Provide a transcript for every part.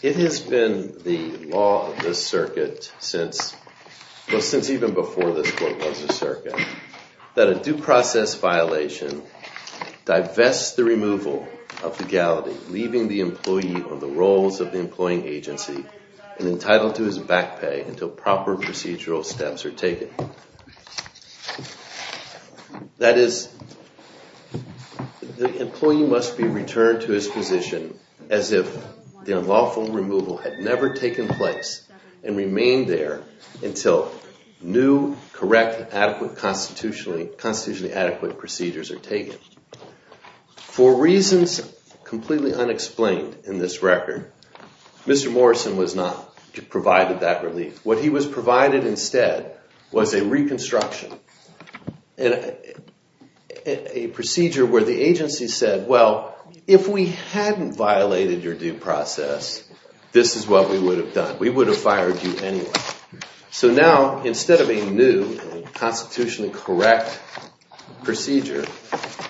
It has been the law of this circuit, since even before this court was a circuit, that a due process violation divests the removal of legality, leaving the employee on the rolls of the employing agency and entitled to his back pay until proper procedural steps are taken. That is, the employee must be returned to his position as if the unlawful removal had never taken place and remained there until new, correct, and constitutionally adequate procedures are taken. For reasons completely unexplained in this record, Mr. Morrison was not provided that relief. What he was provided instead was a reconstruction, a procedure where the agency said, well, if we hadn't violated your due process, this is what we would have done. We would have fired you anyway. So now, instead of a new, constitutionally correct procedure,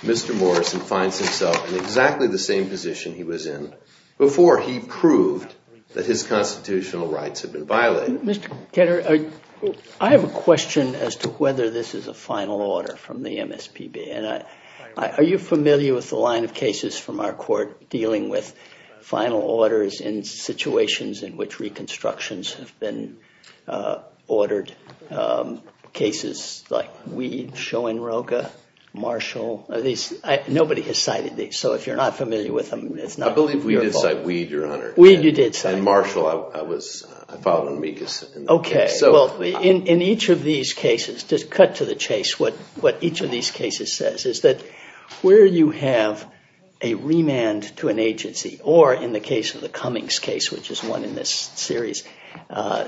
Mr. Morrison finds himself in exactly the same position he was in before he proved that his constitutional rights had been violated. Mr. Ketter, I have a question as to whether this is a final order from the MSPB. Are you familiar with the line of cases from our court dealing with final orders in situations in which reconstructions have been ordered? Cases like Weed, Schoenroger, Marshall. Nobody has cited these, so if you're not familiar with them, it's not your fault. I believe we did cite Weed, Your Honor. Weed, you did cite. And Marshall, I filed an amicus. Okay. Well, in each of these cases, just cut to the chase, what each of these cases says is that where you have a remand to an agency, or in the case of the Cummings case, which is one in this series,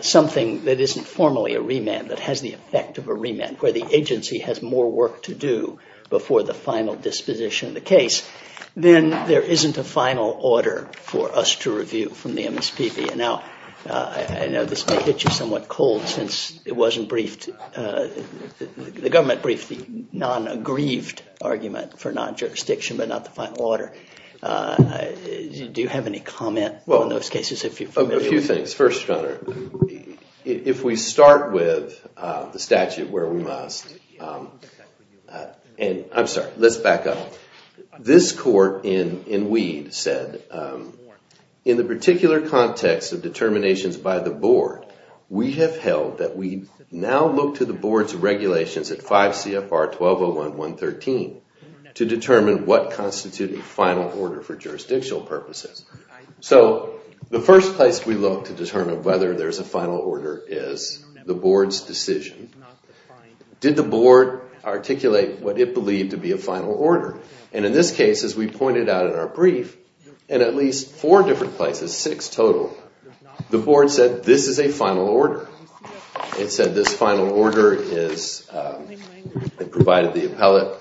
something that isn't formally a remand, that has the effect of a remand, where the agency has more work to do before the final disposition of the case, then there isn't a final order for us to review from the MSPB. And now, I know this may get you somewhat cold since it wasn't briefed, the government briefed the non-aggrieved argument for non-jurisdiction, but not the final order. Do you have any comment on those cases, if you're familiar with them? A few things. First, Your Honor, if we start with the statute where we must, and I'm sorry, let's back up. This court in Weed said, in the particular context of determinations by the board, we have held that we now look to the board's regulations at 5 CFR 1201.113 to determine what constitutes a final order for jurisdictional purposes. So, the first place we look to determine whether there's a final order is the board's decision. Did the board articulate what it believed to be a final order? And in this case, as we pointed out in our brief, in at least four different places, six total, the board said this is a final order. It said this final order provided the appellate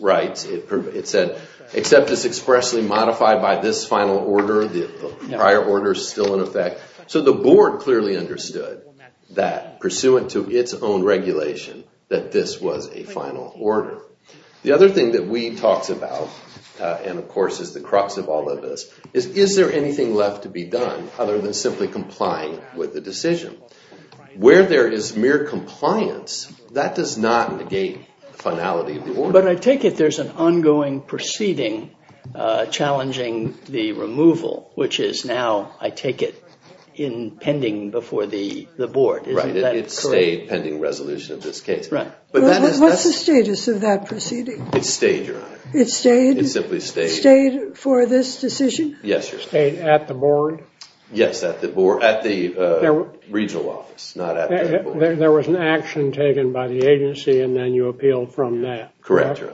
rights. It said, except it's expressly modified by this final order. The prior order is still in effect. So, the board clearly understood that, pursuant to its own regulation, that this was a final order. The other thing that Weed talks about, and of course is the crux of all of this, is is there anything left to be done other than simply complying with the decision? Where there is mere compliance, that does not negate the finality of the order. But I take it there's an ongoing proceeding challenging the removal, which is now, I take it, in pending before the board. Right, it stayed pending resolution of this case. Right. But what's the status of that proceeding? It stayed, Your Honor. It stayed? It simply stayed. Stayed for this decision? Yes, Your Honor. Stayed at the board? Yes, at the board, at the regional office, not at the board. There was an action taken by the agency, and then you appealed from that. Correct, Your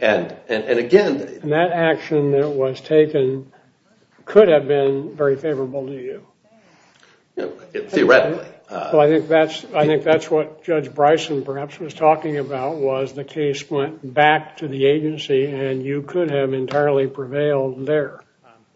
Honor. And again... That action that was taken could have been very favorable to you. Theoretically. Well, I think that's what Judge Bryson perhaps was talking about, was the case went back to the agency, and you could have entirely prevailed there.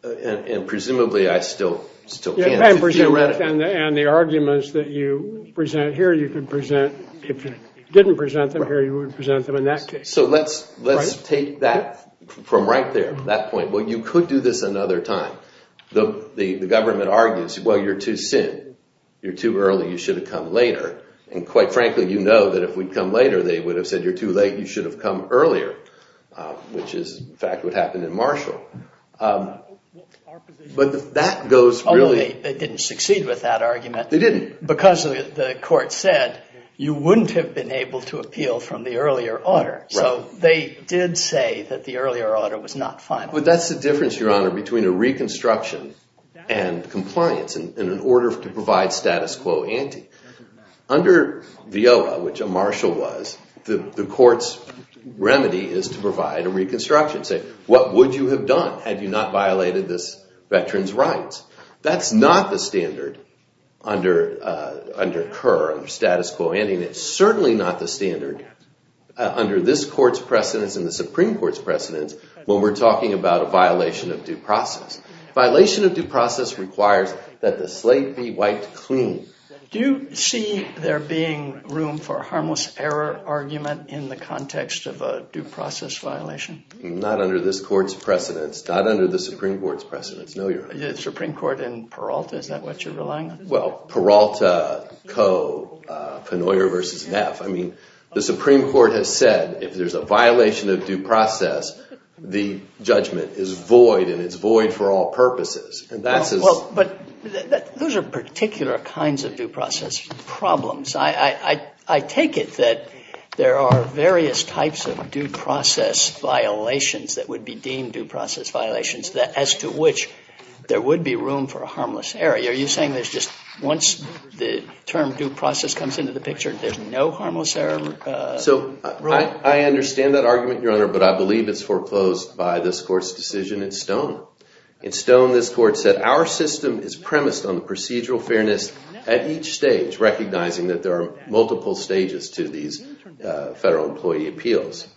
And presumably, I still can't, theoretically. And the arguments that you present here, you could present, if you didn't present them here, you would present them in that case. Let's take that from right there, that point. Well, you could do this another time. The government argues, well, you're too soon. You're too early. You should have come later. And quite frankly, you know that if we'd come later, they would have said, you're too late. You should have come earlier, which is, in fact, what happened in Marshall. But that goes really... They didn't succeed with that argument. They didn't. Because the court said, you wouldn't have been able to appeal from the earlier order. They did say that the earlier order was not final. But that's the difference, Your Honor, between a reconstruction and compliance, in an order to provide status quo ante. Under VIOA, which a Marshall was, the court's remedy is to provide a reconstruction. Say, what would you have done had you not violated this veteran's rights? That's not the standard under CUR, under status quo ante. It's certainly not the standard under this court's precedence and the Supreme Court's precedence when we're talking about a violation of due process. Violation of due process requires that the slate be wiped clean. Do you see there being room for a harmless error argument in the context of a due process violation? Not under this court's precedence. Not under the Supreme Court's precedence. No, Your Honor. Supreme Court in Peralta, is that what you're relying on? Well, Peralta, Coe, Penoyer v. Neff. I mean, the Supreme Court has said, if there's a violation of due process, the judgment is void and it's void for all purposes. Those are particular kinds of due process problems. I take it that there are various types of due process violations that would be deemed due process violations as to which there would be room for a harmless error. Are you saying there's just, once the term due process comes into the picture, there's no harmless error? So I understand that argument, Your Honor, but I believe it's foreclosed by this court's decision in Stone. In Stone, this court said, our system is premised on the procedural fairness at each stage, recognizing that there are multiple stages to these federal employee appeals.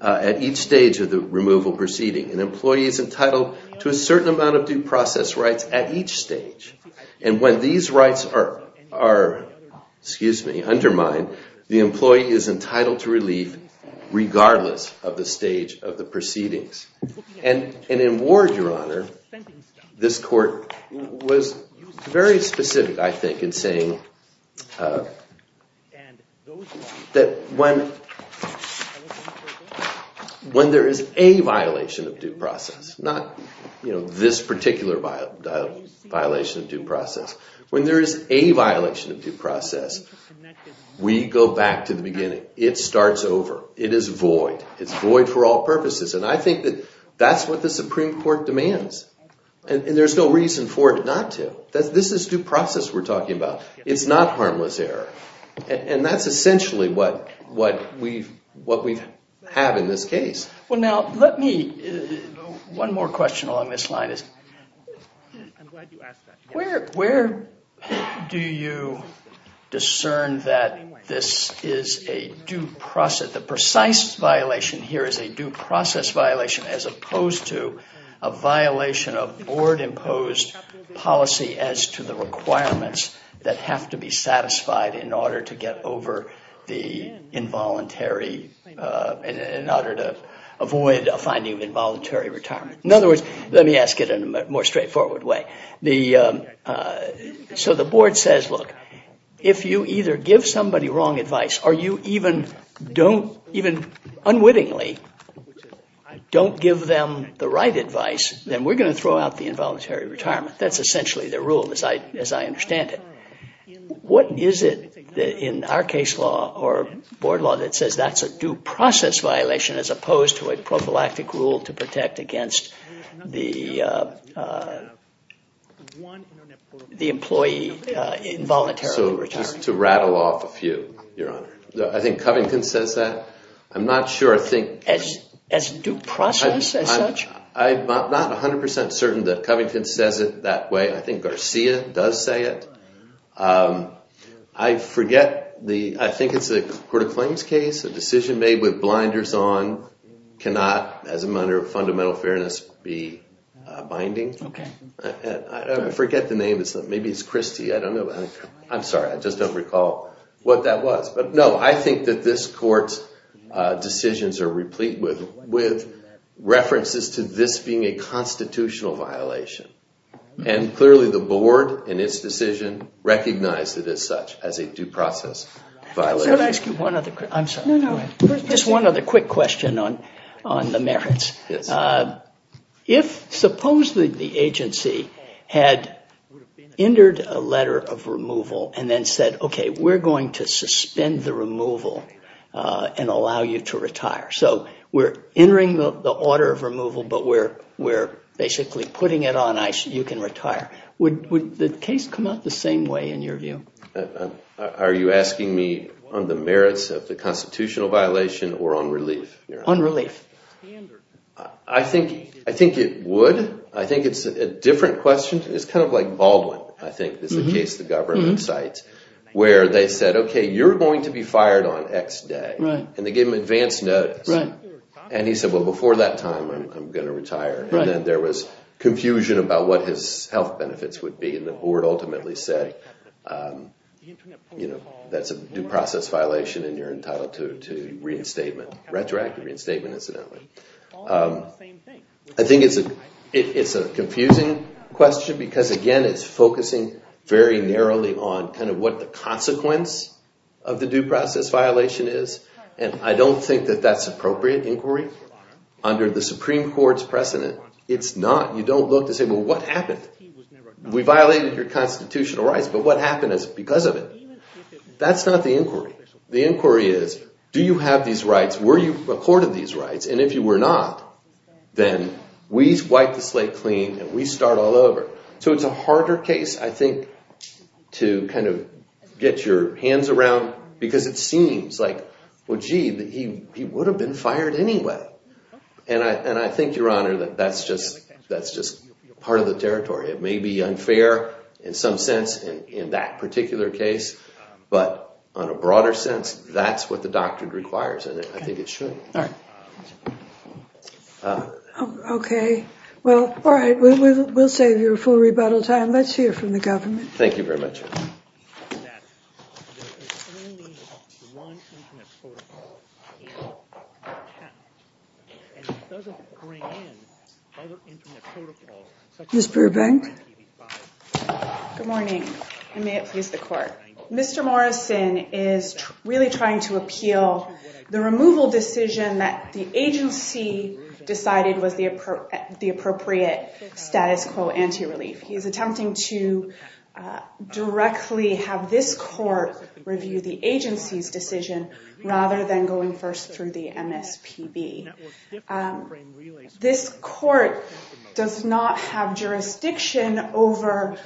At each stage of the removal proceeding, an employee is entitled to a certain amount of due process rights at each stage. And when these rights are undermined, the employee is entitled to relief regardless of the stage of the proceedings. And in Ward, Your Honor, this court was very specific, I think, in saying that when there is a violation of due process, not this particular violation of due process, when there is a violation of due process, we go back to the beginning. It starts over. It is void. It's void for all purposes. And I think that that's what the Supreme Court demands. And there's no reason for it not to. This is due process we're talking about. It's not harmless error. And that's essentially what we have in this case. Well, now, let me, one more question along this line is, where do you discern that this is a due process, the precise violation here is a due process violation as opposed to a violation of board-imposed policy as to the requirements that have to be satisfied in order to get over the involuntary, in order to avoid a finding of involuntary retirement? In other words, let me ask it in a more straightforward way. So the board says, look, if you either give somebody wrong advice or you even unwittingly don't give them the right advice, then we're going to throw out the involuntary retirement. That's essentially the rule as I understand it. What is it in our case law or board law that says that's a due process violation as opposed to a prophylactic rule to protect against the employee involuntary retirement? To rattle off a few, Your Honor. I think Covington says that. I'm not sure I think... As due process as such? I'm not 100% certain that Covington says it that way. I think Garcia does say it. I forget the... I think it's a court of claims case. A decision made with blinders on cannot, as a matter of fundamental fairness, be binding. Okay. I forget the name. Maybe it's Christie. I don't know. I'm sorry. I just don't recall what that was. But no, I think that this court's decisions are replete with references to this being a constitutional violation. And clearly the board, in its decision, recognized it as such, as a due process violation. Can I ask you one other... I'm sorry. No, no. Just one other quick question on the merits. If, supposedly, the agency had entered a letter of removal and then said, okay, we're going to suspend the removal and allow you to retire. So we're entering the order of removal, but we're basically putting it on, you can retire. Would the case come out the same way, in your view? Are you asking me on the merits of the constitutional violation or on relief? On relief. I think it would. I think it's a different question. It's kind of like Baldwin, I think, is the case the government cites, where they said, okay, you're going to be fired on X day. Right. And they gave him advance notice. Right. And he said, well, before that time, I'm going to retire. Right. And then there was confusion about what his health benefits would be. And the board ultimately said, that's a due process violation and you're entitled to reinstatement, retroactive reinstatement, incidentally. I think it's a confusing question, because, again, it's focusing very narrowly on kind of what the consequence of the due process violation is. And I don't think that that's appropriate inquiry. Under the Supreme Court's precedent, it's not. You don't look to say, well, what happened? We violated your constitutional rights, but what happened because of it? That's not the inquiry. The inquiry is, do you have these rights? Were you accorded these rights? And if you were not, then we wipe the slate clean and we start all over. So it's a harder case, I think, to kind of get your hands around. Because it seems like, well, gee, he would have been fired anyway. And I think, Your Honor, that that's just part of the territory. It may be unfair in some sense in that particular case. But on a broader sense, that's what the doctrine requires. And I think it should. OK. Well, all right, we'll save you a full rebuttal time. Let's hear from the government. Thank you very much. Ms. Brubank? Good morning, and may it please the Court. Mr. Morrison is really trying to appeal the removal decision that the agency decided was the appropriate status quo anti-relief. He's attempting to directly have this Court review the agency's decision rather than going first through the MSPB. This Court does not have jurisdiction over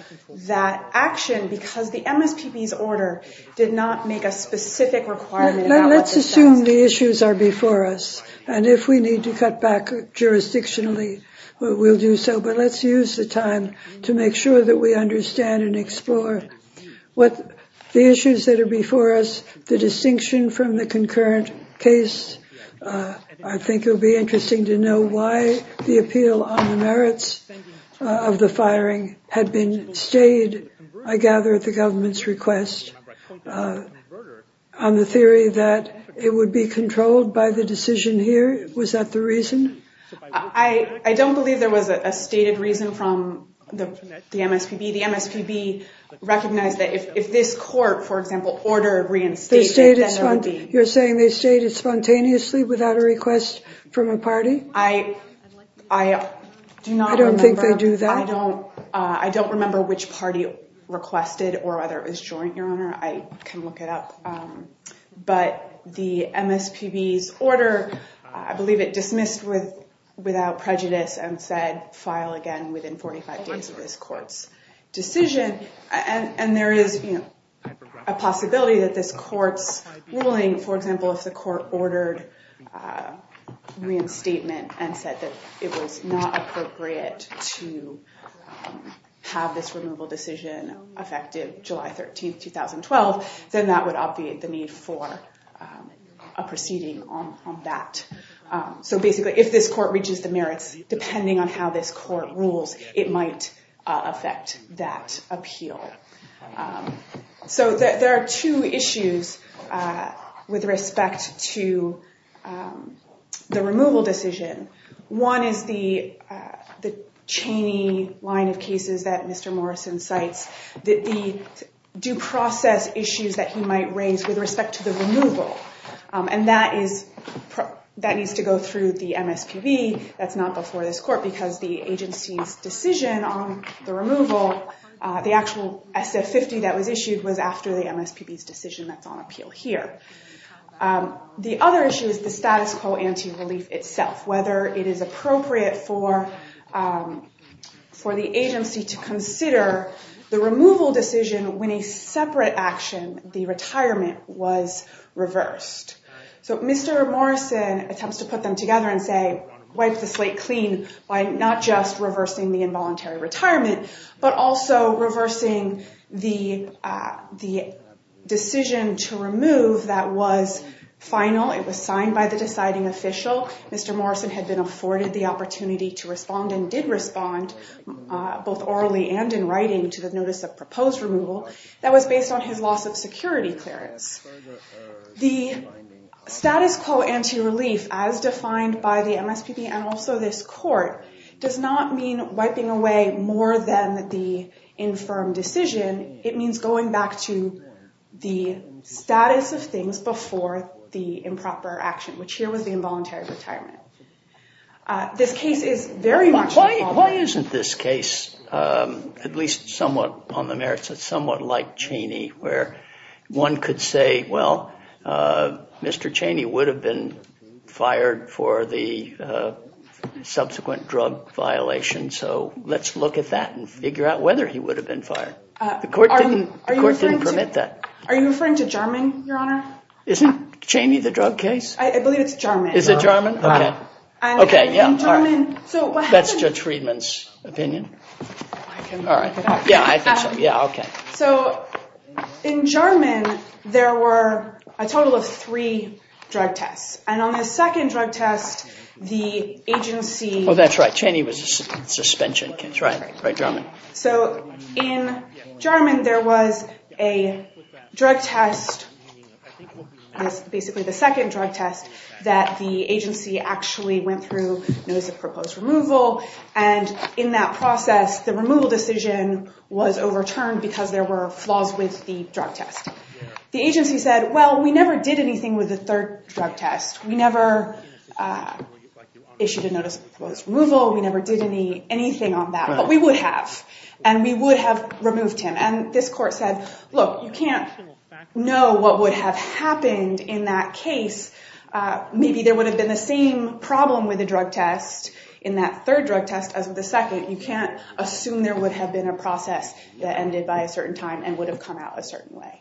that action because the MSPB's order did not make a specific requirement about what the status quo is. Let's assume the issues are before us. And if we need to cut back jurisdictionally, we'll do so. But let's use the time to make sure that we understand and explore what the issues that are before us, the distinction from the concurrent case. I think it would be interesting to know why the appeal on the merits of the firing had been stayed, I gather, at the government's request on the theory that it would be controlled by the decision here. Was that the reason? I don't believe there was a stated reason from the MSPB. The MSPB recognized that if this Court, for example, ordered reinstatement, then there would be... You're saying they stayed it spontaneously without a request from a party? I do not remember. I don't think they do that. I don't remember which party requested or whether it was joint, Your Honor. I can look it up. But the MSPB's order, I believe it dismissed without prejudice and said, file again within 45 days of this Court's decision. And there is a possibility that this Court's ruling, for example, if the Court ordered reinstatement and said that it was not appropriate to have this removal decision effected July 13, 2012, then that would obviate the need for a proceeding on that. So basically, if this Court reaches the merits, depending on how this Court rules, it might affect that appeal. So there are two issues with respect to the removal decision. One is the chain-y line of cases that Mr. Morrison cites, that the due process issues that he might raise with respect to the removal. And that needs to go through the MSPB. That's not before this Court because the agency's decision on the removal, the actual SF-50 that was issued was after the MSPB's decision that's on appeal here. The other issue is the status quo anti-relief itself. Whether it is appropriate for the agency to consider the removal decision when a separate action, the retirement, was reversed. So Mr. Morrison attempts to put them together and say, wipe the slate clean by not just reversing the involuntary retirement, but also reversing the decision to remove that was final. It was signed by the deciding official. Mr. Morrison had been afforded the opportunity to respond and did respond, both orally and in writing, to the notice of proposed removal that was based on his loss of security clearance. The status quo anti-relief, as defined by the MSPB and also this Court, does not mean wiping away more than the infirm decision. It means going back to the status of things before the improper action, which here was the involuntary retirement. Why isn't this case, at least somewhat on the merits of somewhat like Cheney, where one could say, well, Mr. Cheney would have been fired for the subsequent drug violation, so let's look at that and figure out whether he would have been fired. The Court didn't permit that. Are you referring to Jarman, Your Honor? Isn't Cheney the drug case? I believe it's Jarman. Is it Jarman? That's Judge Friedman's opinion. In Jarman, there were a total of three drug tests, and on the second drug test, the agency... Oh, that's right. Cheney was a suspension case, right, Jarman? So in Jarman, there was a drug test, basically the second drug test, that the agency actually went through notice of proposed removal, and in that process, the removal decision was overturned because there were flaws with the drug test. The agency said, well, we never did anything with the third drug test. We never issued a notice of proposed removal. We never did anything on that. But we would have, and we would have removed him. And this Court said, look, you can't know what would have happened in that case. Maybe there would have been the same problem with the drug test in that third drug test as with the second. You can't assume there would have been a process that ended by a certain time and would have come out a certain way.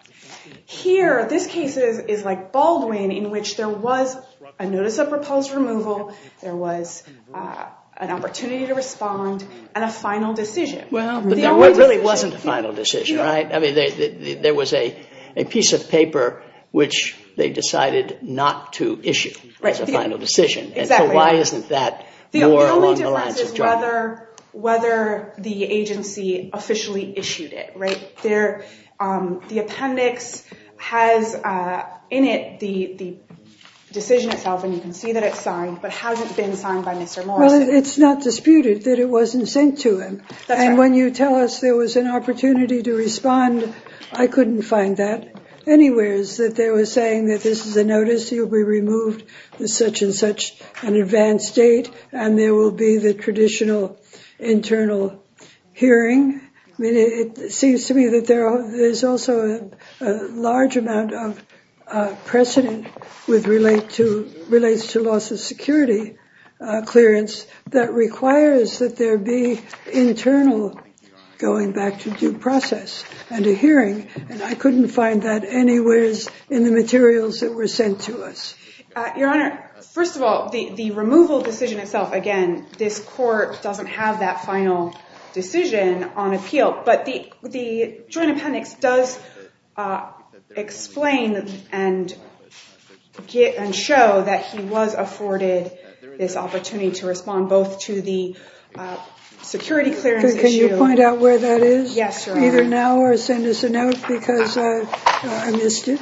Here, this case is like Baldwin, in which there was a notice of proposed removal, there was an opportunity to respond, and a final decision. Well, there really wasn't a final decision, right? I mean, there was a piece of paper which they decided not to issue as a final decision. And so why isn't that more along the lines of Jarman? The only difference is whether the agency officially issued it, right? The appendix has in it the decision itself, and you can see that it's signed, but has it been signed by Mr. Morris? Well, it's not disputed that it wasn't sent to him. And when you tell us there was an opportunity to respond, I couldn't find that anywheres, that they were saying that this is a notice, he'll be removed with such and such an advanced date, and there will be the traditional internal hearing. I mean, it seems to me that there's also a large amount of precedent with relates to loss of security clearance that requires that there be internal going back to due process and a hearing. And I couldn't find that anywhere in the materials that were sent to us. Your Honor, first of all, the removal decision itself, again, this court doesn't have that final decision on appeal. But the Joint Appendix does explain and show that he was afforded this opportunity to respond, both to the security clearance issue- Can you point out where that is? Yes, Your Honor. Either now or send us a note, because I missed it.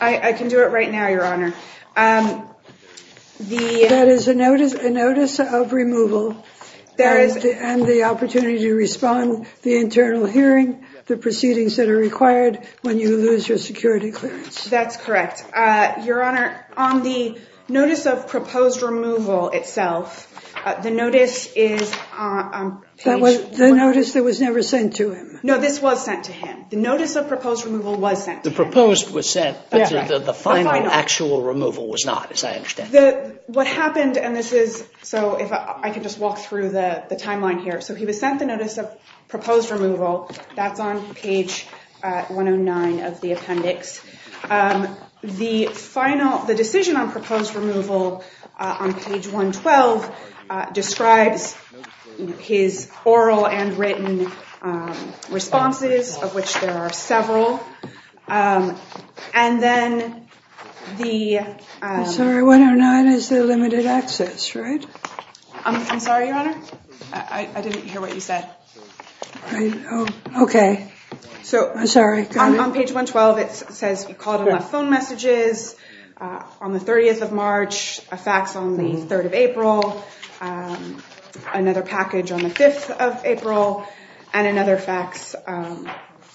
I can do it right now, Your Honor. That is a notice of removal, and the opportunity to respond, the internal hearing, the proceedings that are required when you lose your security clearance. That's correct. Your Honor, on the notice of proposed removal itself, the notice is on page- The notice that was never sent to him. No, this was sent to him. The notice of proposed removal was sent to him. The proposed was sent, but the final actual removal was not, as I understand it. What happened, and this is- So if I can just walk through the timeline here. So he was sent the notice of proposed removal. That's on page 109 of the appendix. The final, the decision on proposed removal on page 112 describes his oral and written responses, of which there are several. And then the- I'm sorry, 109 is the limited access, right? I'm sorry, Your Honor. I didn't hear what you said. Okay, so I'm sorry. On page 112, it says he called and left phone messages on the 30th of March, a fax on the 3rd of April, another package on the 5th of April, and another fax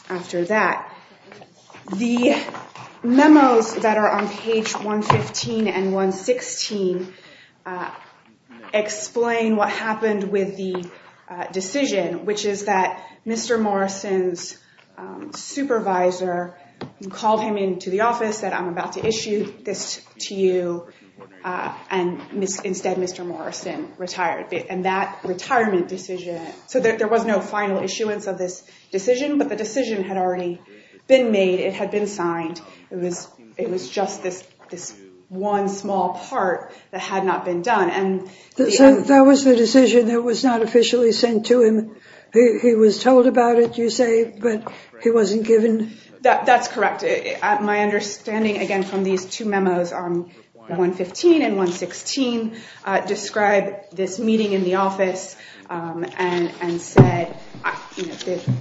after that. The memos that are on page 115 and 116 explain what happened with the decision, which is that Mr. Morrison's supervisor called him into the office, said, I'm about to issue this to you, and instead Mr. Morrison retired. And that retirement decision, so there was no final issuance of this decision, but the decision had already been made. It had been signed. It was just this one small part that had not been done. That was the decision that was not officially sent to him. He was told about it, you say, but he wasn't given- That's correct. My understanding, again, from these two memos on 115 and 116 describe this meeting in the office and said,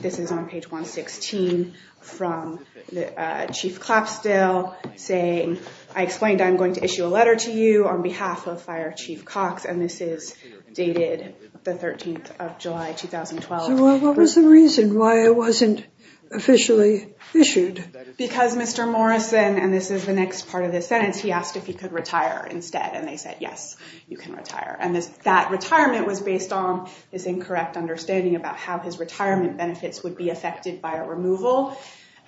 this is on page 116 from the Chief Clapsdale saying, I explained I'm going to issue a letter to you on behalf of Fire Chief Cox, and this is dated the 13th of July, 2012. So what was the reason why it wasn't officially issued? Because Mr. Morrison, and this is the next part of the sentence, he asked if he could retire instead, and they said yes. You can retire. And that retirement was based on his incorrect understanding about how his retirement benefits would be affected by a removal.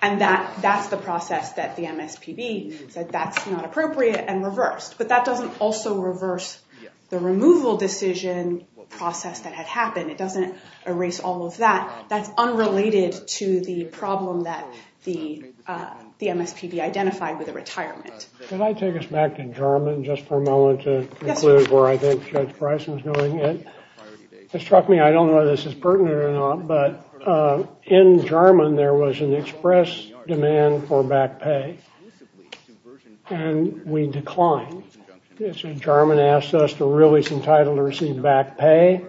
And that's the process that the MSPB said that's not appropriate and reversed. But that doesn't also reverse the removal decision process that had happened. It doesn't erase all of that. That's unrelated to the problem that the MSPB identified with the retirement. Can I take us back to Jarman just for a moment to conclude where I think Judge Bryson's doing it? It struck me, I don't know whether this is pertinent or not, but in Jarman, there was an express demand for back pay. And we declined. Jarman asked us to release entitled to receive back pay.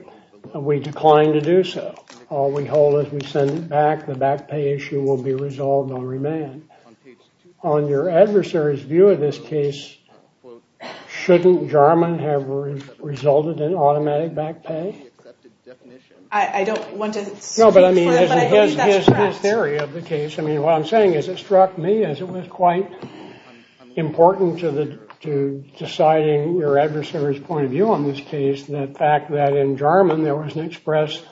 We declined to do so. All we hold is we send it back. The back pay issue will be resolved on remand. On your adversary's view of this case, shouldn't Jarman have resulted in automatic back pay? I don't want to speak for him, but I believe that's correct. No, but I mean, his theory of the case, I mean, what I'm saying is it struck me as it was quite important to deciding your adversary's point of view on this case, the fact that in Jarman, there was an express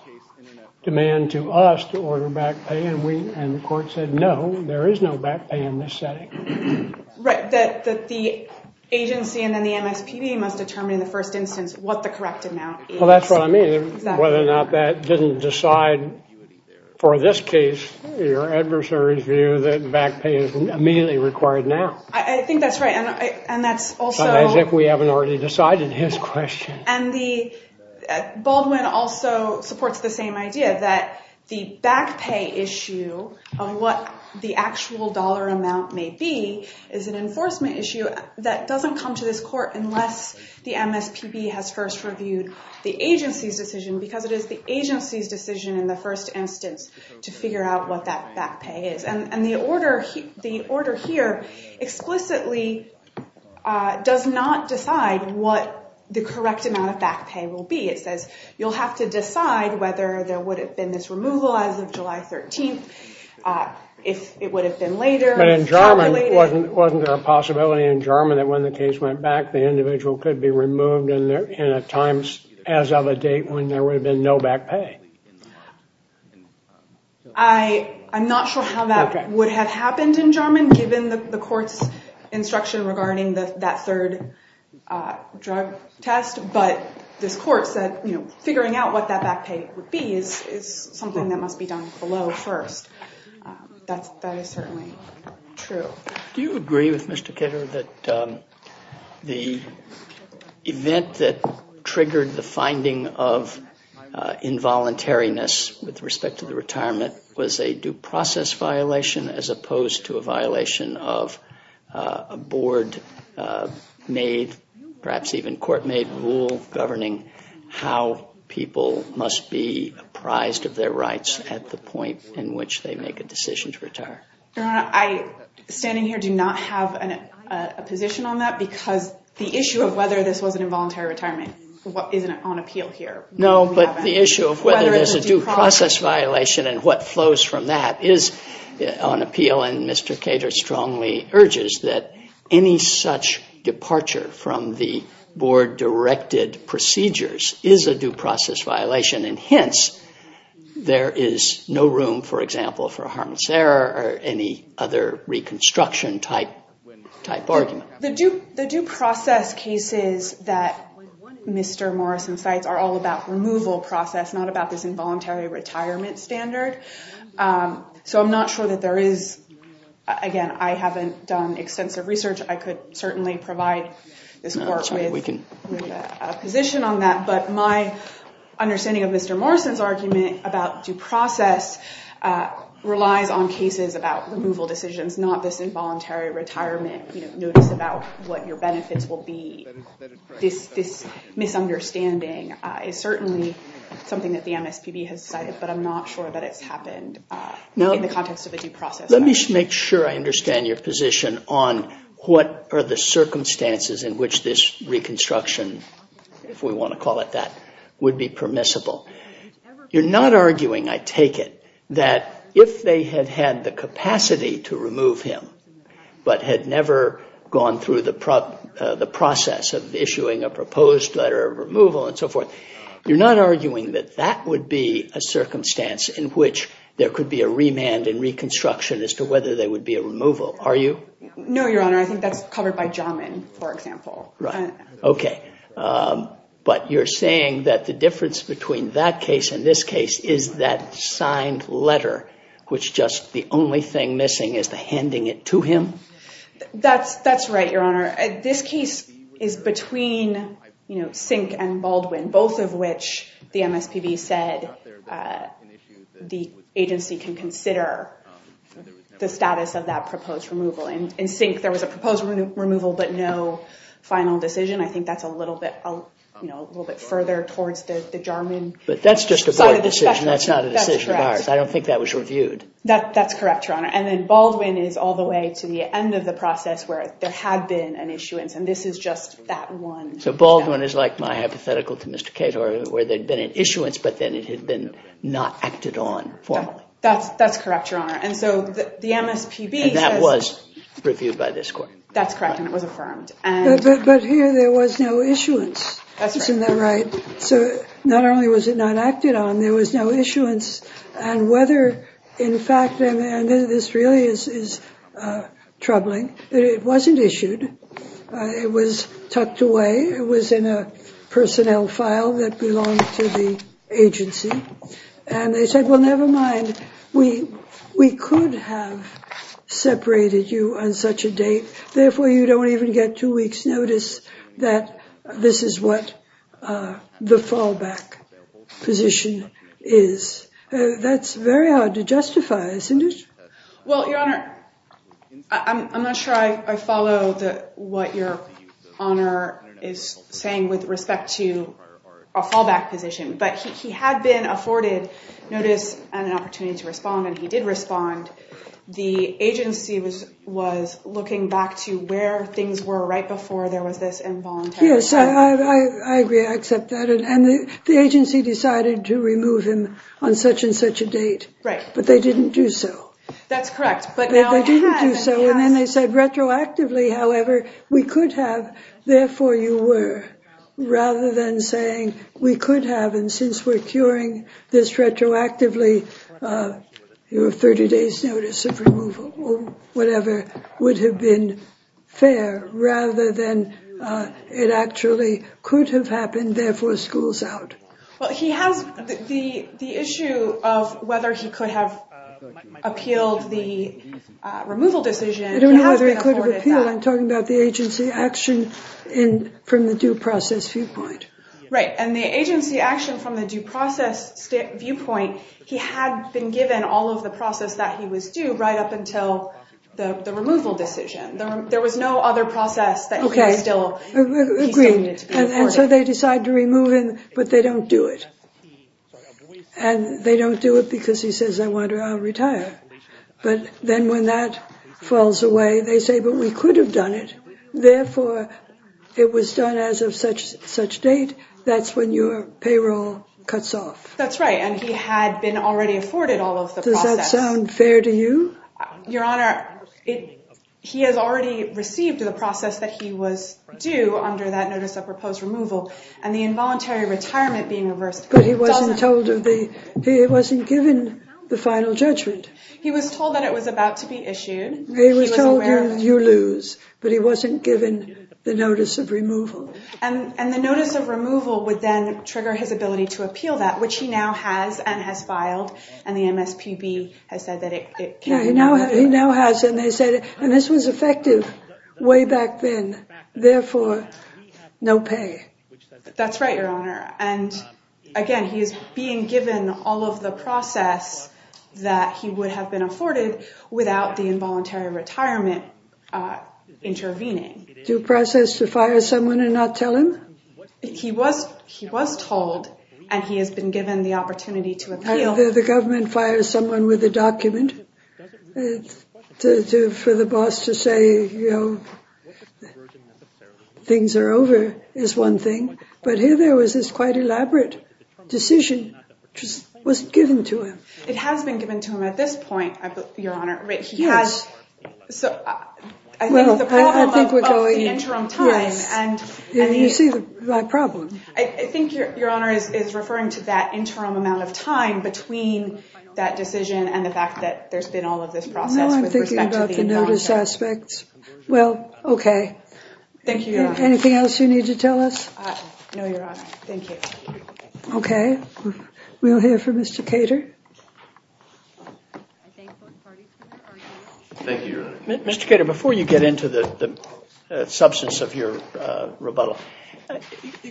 demand to us to order back pay. And the court said, no, there is no back pay in this setting. Right, that the agency and then the MSPB must determine in the first instance what the correct amount is. Well, that's what I mean. Whether or not that didn't decide for this case, your adversary's view that back pay is immediately required now. I think that's right. And that's also— As if we haven't already decided his question. And Baldwin also supports the same idea that the back pay issue of what the actual dollar amount may be is an enforcement issue that doesn't come to this court unless the MSPB has first reviewed the agency's decision, because it is the agency's decision in the first instance to figure out what that back pay is. And the order here explicitly does not decide what the correct amount of back pay will be. It says you'll have to decide whether there would have been this removal as of July 13th, if it would have been later. But in Jarman, wasn't there a possibility in Jarman that when the case went back, the individual could be removed in a time as of a date when there would have been no back pay? I'm not sure how that would have happened in Jarman, given the court's instruction regarding that third drug test. But this court said, you know, figuring out what that back pay would be is something that must be done below first. That is certainly true. Do you agree with Mr. Ketter that the event that triggered the finding of involuntary with respect to the retirement was a due process violation as opposed to a violation of a board-made, perhaps even court-made rule governing how people must be apprised of their rights at the point in which they make a decision to retire? Your Honor, I, standing here, do not have a position on that, because the issue of whether this was an involuntary retirement isn't on appeal here. No, but the issue of whether there's a due process violation and what flows from that is on appeal, and Mr. Ketter strongly urges that any such departure from the board-directed procedures is a due process violation, and hence, there is no room, for example, for harm's error or any other reconstruction-type argument. The due process cases that Mr. Morrison cites are all about removal process, not about this involuntary retirement standard, so I'm not sure that there is, again, I haven't done extensive research. I could certainly provide this court with a position on that, but my understanding of Mr. Morrison's argument about due process relies on cases about removal decisions, not this involuntary retirement, you know, notice about what your benefits will be. This misunderstanding is certainly something that the MSPB has cited, but I'm not sure that it's happened in the context of a due process. Now, let me make sure I understand your position on what are the circumstances in which this reconstruction, if we want to call it that, would be permissible. You're not arguing, I take it, that if they had had the capacity to remove him, but had never gone through the process of issuing a proposed letter of removal, and so forth, you're not arguing that that would be a circumstance in which there could be a remand and reconstruction as to whether there would be a removal, are you? No, Your Honor, I think that's covered by Jamin, for example. Okay, but you're saying that the difference between that case and this case is that signed letter, which just the only thing missing is the handing it to him? That's right, Your Honor. This case is between, you know, Sink and Baldwin, both of which the MSPB said the agency can consider the status of that proposed removal. In Sink, there was a proposed removal, but no final decision. I think that's a little bit further towards the Jamin side of the spectrum. But that's just a board decision, that's not a decision of ours. I don't think that was reviewed. That's correct, Your Honor. And then Baldwin is all the way to the end of the process, where there had been an issuance, and this is just that one. So Baldwin is like my hypothetical to Mr. Cato, where there'd been an issuance, but then it had been not acted on formally. That's correct, Your Honor. And so the MSPB says... That was reviewed by this court. That's correct, and it was affirmed. But here there was no issuance, isn't that right? So not only was it not acted on, there was no issuance. And whether, in fact, and this really is troubling, it wasn't issued. It was tucked away. It was in a personnel file that belonged to the agency. And they said, well, never mind, we could have separated you on such a date. Therefore, you don't even get two weeks' notice that this is what the fallback position is. That's very hard to justify, isn't it? Well, Your Honor, I'm not sure I follow what Your Honor is saying with respect to a fallback position, but he had been afforded notice and an opportunity to respond, and he did respond. The agency was looking back to where things were right before there was this involuntary... Yes, I agree. I accept that. And the agency decided to remove him on such and such a date. Right. But they didn't do so. That's correct. But now they have. They didn't do so, and then they said retroactively, however, we could have, therefore you were, rather than saying we could have, and since we're curing this retroactively, your 30 days' notice of removal or whatever would have been fair, rather than it actually could have happened, therefore school's out. Well, he has the issue of whether he could have appealed the removal decision. I'm talking about the agency action from the due process viewpoint. Right. And the agency action from the due process viewpoint, he had been given all of the process that he was due right up until the removal decision. There was no other process that he was still... Okay, agreed. And so they decide to remove him, but they don't do it. And they don't do it because he says, I wonder, I'll retire. But then when that falls away, they say, but we could have done it. Therefore, it was done as of such date. That's when your payroll cuts off. That's right. And he had been already afforded all of the process. Does that sound fair to you? Your Honor, he has already received the process that he was due under that notice of proposed removal, and the involuntary retirement being reversed... He wasn't given the final judgment. He was told that it was about to be issued. He was told, you lose, but he wasn't given the notice of removal. And the notice of removal would then trigger his ability to appeal that, which he now has and has filed. And the MSPB has said that it can now... He now has, and they said, and this was effective way back then. Therefore, no pay. That's right, Your Honor. And again, he is being given all of the process that he would have been afforded without the involuntary retirement intervening. Due process to fire someone and not tell him? He was told, and he has been given the opportunity to appeal. The government fires someone with a document for the boss to say, you know, things are over is one thing. But here there was this quite elaborate decision, which wasn't given to him. It has been given to him at this point, Your Honor. He has... So I think the problem of the interim time and... Yeah, you see my problem. I think Your Honor is referring to that interim amount of time between that decision and the fact that there's been all of this process with respect to the involuntary retirement. Now I'm thinking about the notice aspects. Well, okay. Thank you, Your Honor. Anything else you need to tell us? No, Your Honor. Thank you. Okay. We'll hear from Mr. Cater. Mr. Cater, before you get into the substance of your rebuttal,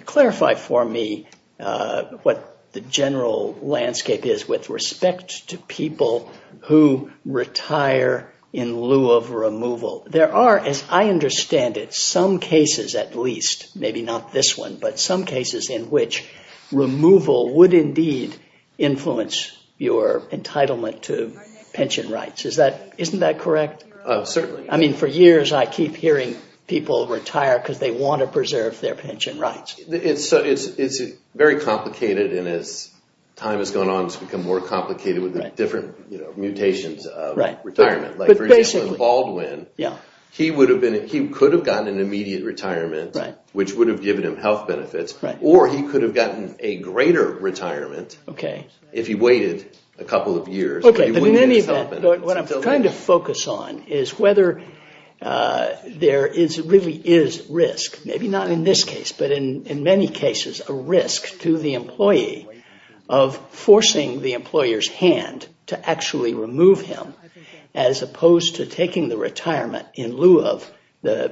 clarify for me what the general landscape is with respect to people who retire in lieu of removal. There are, as I understand it, some cases at least, maybe not this one, but some cases in which removal would indeed influence your entitlement to pension rights. Isn't that correct? Certainly. I mean, for years I keep hearing people retire because they want to preserve their pension rights. It's very complicated, and as time has gone on, it's become more complicated with the different mutations of retirement. For example, Baldwin, he could have gotten an immediate retirement, which would have given him health benefits, or he could have gotten a greater retirement if he waited a couple of years. Okay, but in any event, what I'm trying to focus on is whether there really is risk, maybe not in this case, but in many cases, a risk to the employee of forcing the employer's as opposed to taking the retirement in lieu of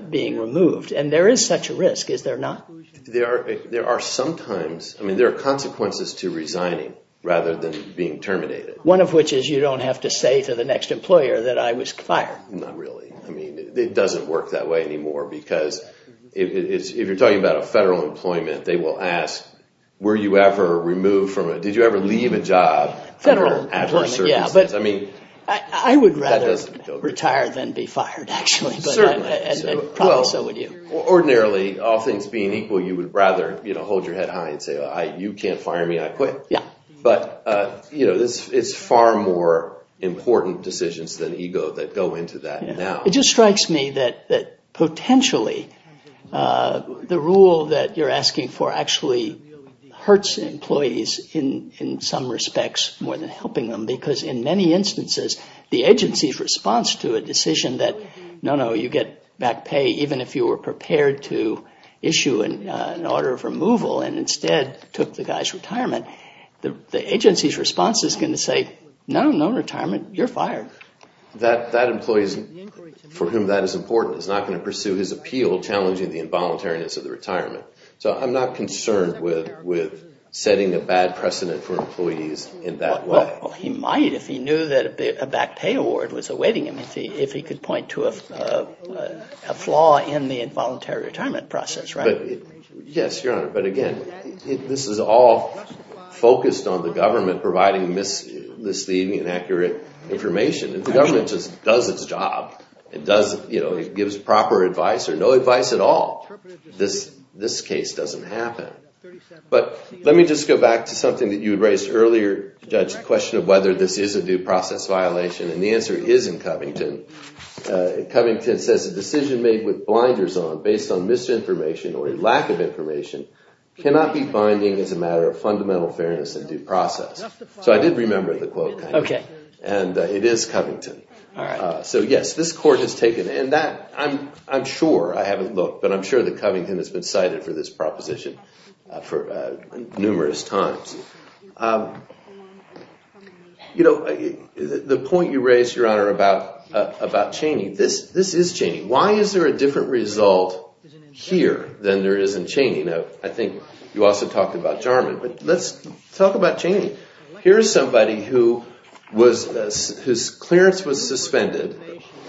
being removed. And there is such a risk, is there not? There are sometimes, I mean, there are consequences to resigning rather than being terminated. One of which is you don't have to say to the next employer that I was fired. Not really. I mean, it doesn't work that way anymore because if you're talking about a federal employment, they will ask, were you ever removed from it? Did you ever leave a job? Federal employment, yeah. I would rather retire than be fired, actually. Certainly. Ordinarily, all things being equal, you would rather hold your head high and say, you can't fire me, I quit. Yeah. But it's far more important decisions than ego that go into that now. It just strikes me that potentially the rule that you're asking for actually hurts employees in some respects more than helping them because in many instances, the agency's response to a decision that, no, no, you get back pay even if you were prepared to issue an order of removal and instead took the guy's retirement, the agency's response is going to say, no, no retirement, you're fired. That employee for whom that is important is not going to pursue his appeal challenging the involuntariness of the retirement. So I'm not concerned with setting a bad precedent for employees in that way. Well, he might if he knew that a back pay award was awaiting him, if he could point to a flaw in the involuntary retirement process, right? Yes, Your Honor. But again, this is all focused on the government providing misleading and accurate information. If the government just does its job, it gives proper advice or no advice at all, this case doesn't happen. But let me just go back to something that you raised earlier, Judge, the question of whether this is a due process violation and the answer is in Covington. Covington says, a decision made with blinders on based on misinformation or a lack of information cannot be binding as a matter of fundamental fairness and due process. So I did remember the quote. Okay. And it is Covington. All right. So yes, this court has taken and that I'm sure I haven't looked, but I'm sure that Covington has been cited for this proposition for numerous times. The point you raised, Your Honor, about Cheney, this is Cheney. Why is there a different result here than there is in Cheney? I think you also talked about Jarman, but let's talk about Cheney. Here's somebody whose clearance was suspended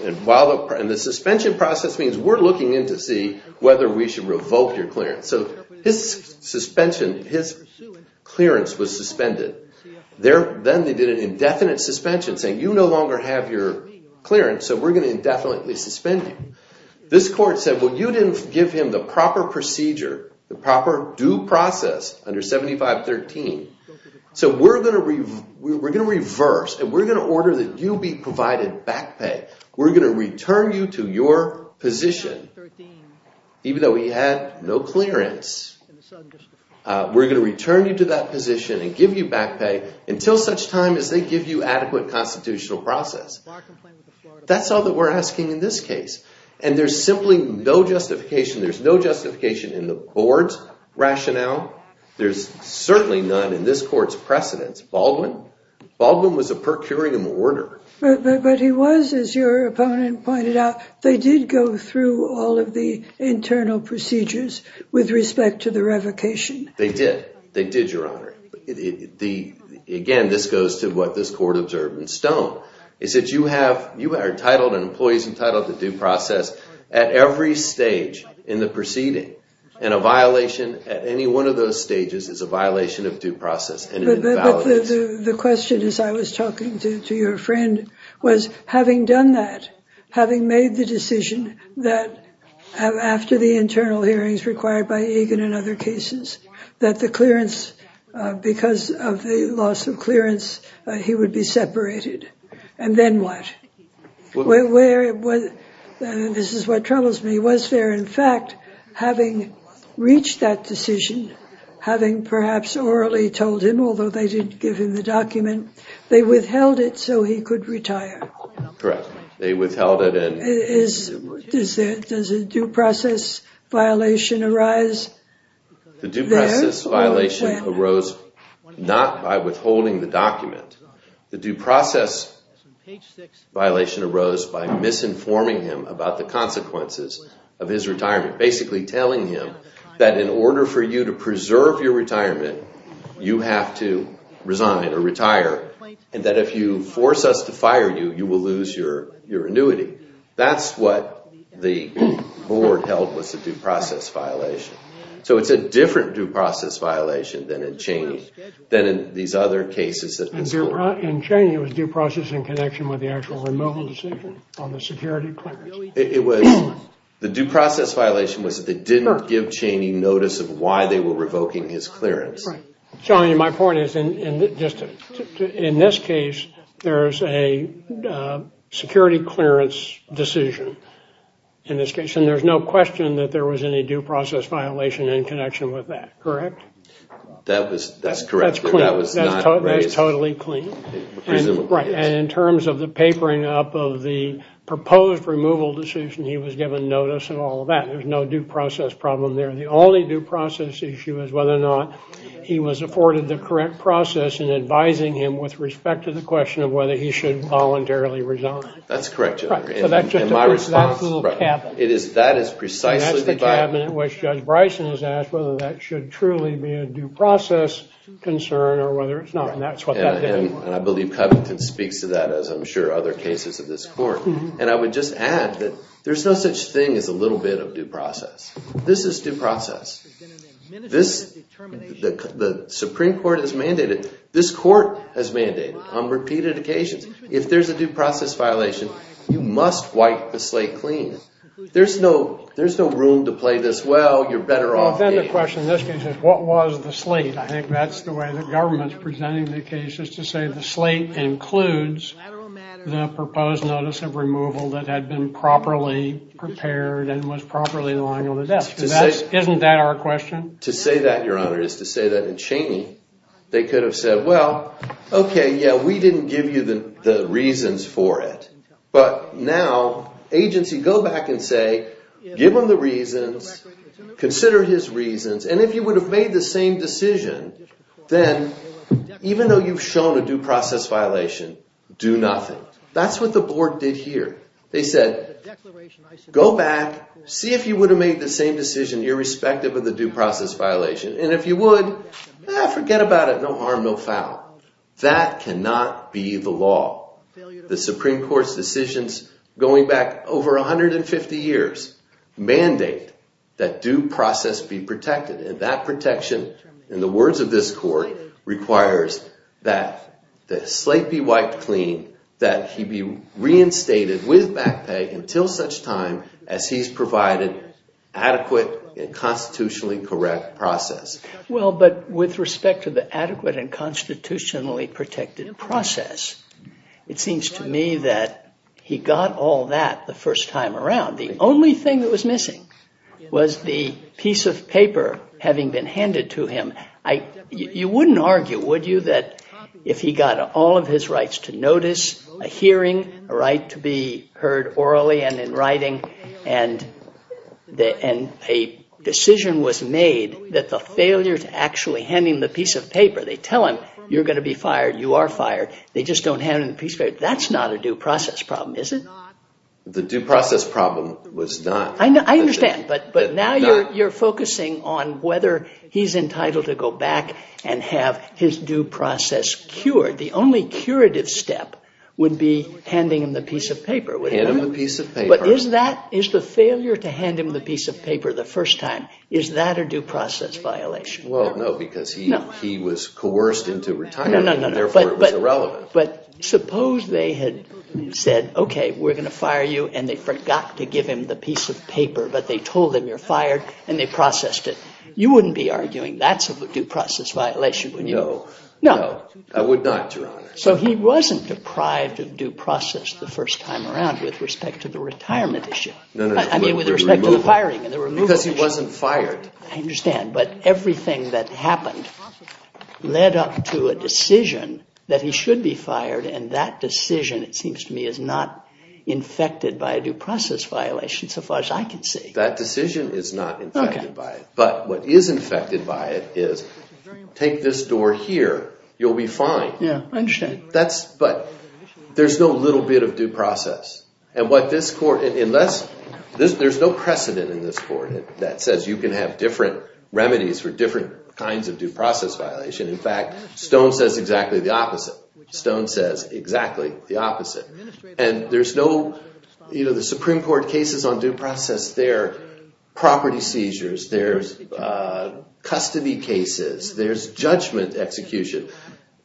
and the suspension process means we're looking in to see whether we should revoke your clearance. So his suspension, his clearance was suspended. Then they did an indefinite suspension saying you no longer have your clearance, so we're going to indefinitely suspend you. This court said, well, you didn't give him the proper procedure, the proper due process under 7513. So we're going to reverse and we're going to order that you be provided back pay. We're going to return you to your position. Even though he had no clearance, we're going to return you to that position and give you back pay until such time as they give you adequate constitutional process. That's all that we're asking in this case. And there's simply no justification. There's no justification in the board's rationale. There's certainly none in this court's precedence. Baldwin was a per curiam order. But he was, as your opponent pointed out, they did go through all of the internal procedures with respect to the revocation. They did. They did, Your Honor. Again, this goes to what this court observed in Stone, is that you are entitled and employees is a violation of due process. But the question, as I was talking to your friend, was having done that, having made the decision that after the internal hearings required by Egan and other cases, that the clearance because of the loss of clearance, he would be separated. And then what? This is what troubles me. In fact, having reached that decision, having perhaps orally told him, although they didn't give him the document, they withheld it so he could retire. Correct. They withheld it. Does a due process violation arise? The due process violation arose by misinforming him about the consequences of his retirement, basically telling him that in order for you to preserve your retirement, you have to resign or retire, and that if you force us to fire you, you will lose your annuity. That's what the board held was a due process violation. So it's a different due process violation than in Cheney, than in these other cases In Cheney, it was due process in connection with the actual removal decision on the security clearance. The due process violation was that they didn't give Cheney notice of why they were revoking his clearance. Right. Sorry, my point is, in this case, there's a security clearance decision in this case, and there's no question that there was any due process violation in connection with that. Correct? That's correct. That's totally clean. And in terms of the papering up of the proposed removal decision, he was given notice and all of that. There's no due process problem there. The only due process issue is whether or not he was afforded the correct process in advising him with respect to the question of whether he should voluntarily resign. That's correct. That's the cabinet which Judge Bryson has asked whether that should truly be a due process concern or whether it's not. And that's what that did. And I believe Covington speaks to that, as I'm sure other cases of this Court. And I would just add that there's no such thing as a little bit of due process. This is due process. The Supreme Court has mandated, this Court has mandated on repeated occasions, if there's a due process violation, you must wipe the slate clean. There's no room to play this, well, you're better off. Then the question in this case is, what was the slate? I think that's the way the government's presenting the case, is to say the slate includes the proposed notice of removal that had been properly prepared and was properly lying on the desk. Isn't that our question? To say that, Your Honor, is to say that in Cheney, they could have said, well, okay, yeah, we didn't give you the reasons for it. But now, agency, go back and say, give him the reasons, consider his reasons. And if you would have made the same decision, then even though you've shown a due process violation, do nothing. That's what the Board did here. They said, go back, see if you would have made the same decision irrespective of the due process violation. And if you would, forget about it, no harm, no foul. That cannot be the law. The Supreme Court's decisions going back over 150 years mandate that due process be protected. And that protection, in the words of this Court, requires that the slate be wiped clean, that he be reinstated with back pay until such time as he's provided adequate and constitutionally correct process. Well, but with respect to the adequate and constitutionally protected process, it seems to me that he got all that the first time around. The only thing that was missing was the piece of paper having been handed to him. You wouldn't argue, would you, that if he got all of his rights to notice, a hearing, a right to be heard orally and in writing, and a decision was made that the failure to actually hand him the piece of paper, they tell him, you're going to be fired, you are fired. They just don't hand him the piece of paper. That's not a due process problem, is it? The due process problem was not. I understand. But now you're focusing on whether he's entitled to go back and have his due process cured. The only curative step would be handing him the piece of paper. Hand him the piece of paper. But is the failure to hand him the piece of paper the first time, is that a due process violation? Well, no, because he was coerced into retirement, and therefore it was irrelevant. But suppose they had said, okay, we're going to fire you, and they forgot to give him the piece of paper, but they told him you're fired, and they processed it. You wouldn't be arguing that's a due process violation, would you? No. No. I would not, Your Honor. So he wasn't deprived of due process the first time around with respect to the retirement issue. I mean, with respect to the firing and the removal issue. Because he wasn't fired. I understand. But everything that happened led up to a decision that he should be fired, and that decision, it seems to me, is not infected by a due process violation so far as I can see. That decision is not infected by it. You'll be fine. Yeah, I understand. But there's no little bit of due process. There's no precedent in this court that says you can have different remedies for different kinds of due process violation. In fact, Stone says exactly the opposite. Stone says exactly the opposite. The Supreme Court cases on due process, they're property seizures, there's custody cases, there's judgment execution.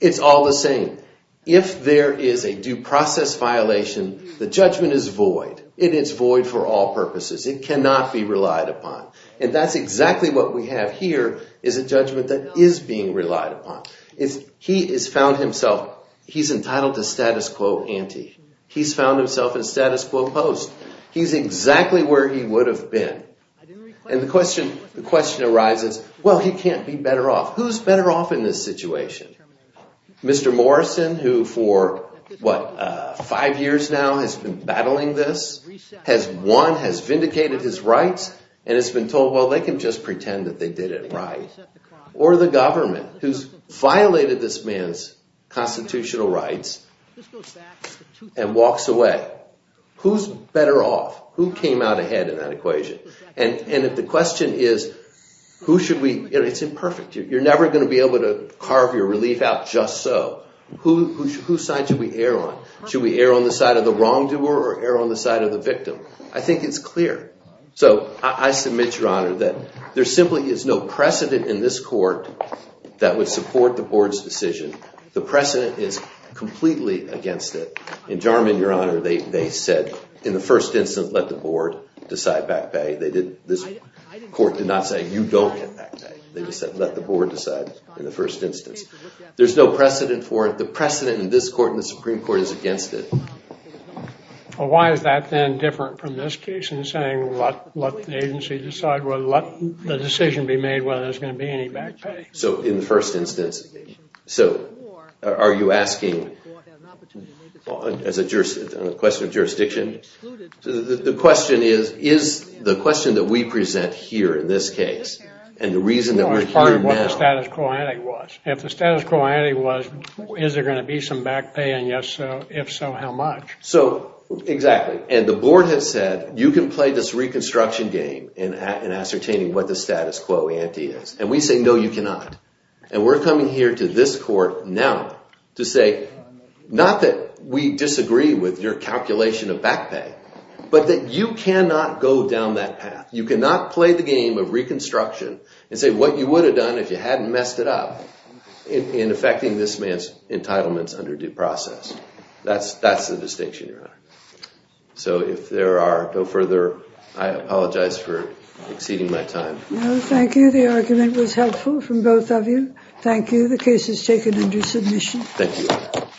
It's all the same. If there is a due process violation, the judgment is void. It is void for all purposes. It cannot be relied upon. And that's exactly what we have here, is a judgment that is being relied upon. He has found himself, he's entitled to status quo ante. He's found himself in status quo post. He's exactly where he would have been. And the question arises, well, he can't be better off. Who's better off in this situation? Mr. Morrison, who for, what, five years now has been battling this, has won, has vindicated his rights, and has been told, well, they can just pretend that they did it right. Or the government, who's violated this man's constitutional rights and walks away. Who's better off? Who came out ahead in that equation? And if the question is, who should we, it's imperfect. You're never going to be able to carve your relief out just so. Who's side should we err on? Should we err on the side of the wrongdoer or err on the side of the victim? I think it's clear. So I submit, Your Honor, that there simply is no precedent in this court that would support the board's decision. The precedent is completely against it. In Jarman, Your Honor, they said, in the first instance, let the board decide back bay. This court did not say, you don't get back bay. They just said, let the board decide in the first instance. There's no precedent for it. The precedent in this court and the Supreme Court is against it. Well, why is that then different from this case in saying, let the agency decide? Well, let the decision be made whether there's going to be any back bay. So in the first instance, so are you asking, as a question of jurisdiction? So the question is, is the question that we present here in this case and the reason that we're here now. No, it's part of what the status quo ante was. If the status quo ante was, is there going to be some back bay? And if so, how much? So, exactly. And the board has said, you can play this reconstruction game in ascertaining what the status quo ante is. And we say, no, you cannot. And we're coming here to this court now to say, not that we disagree with your calculation of back bay, but that you cannot go down that path. You cannot play the game of reconstruction and say what you would have done if you hadn't messed it up in affecting this man's entitlements under due process. That's the distinction, Your Honor. So if there are no further, I apologize for exceeding my time. No, thank you. The argument was helpful from both of you. Thank you. The case is taken under submission. Thank you.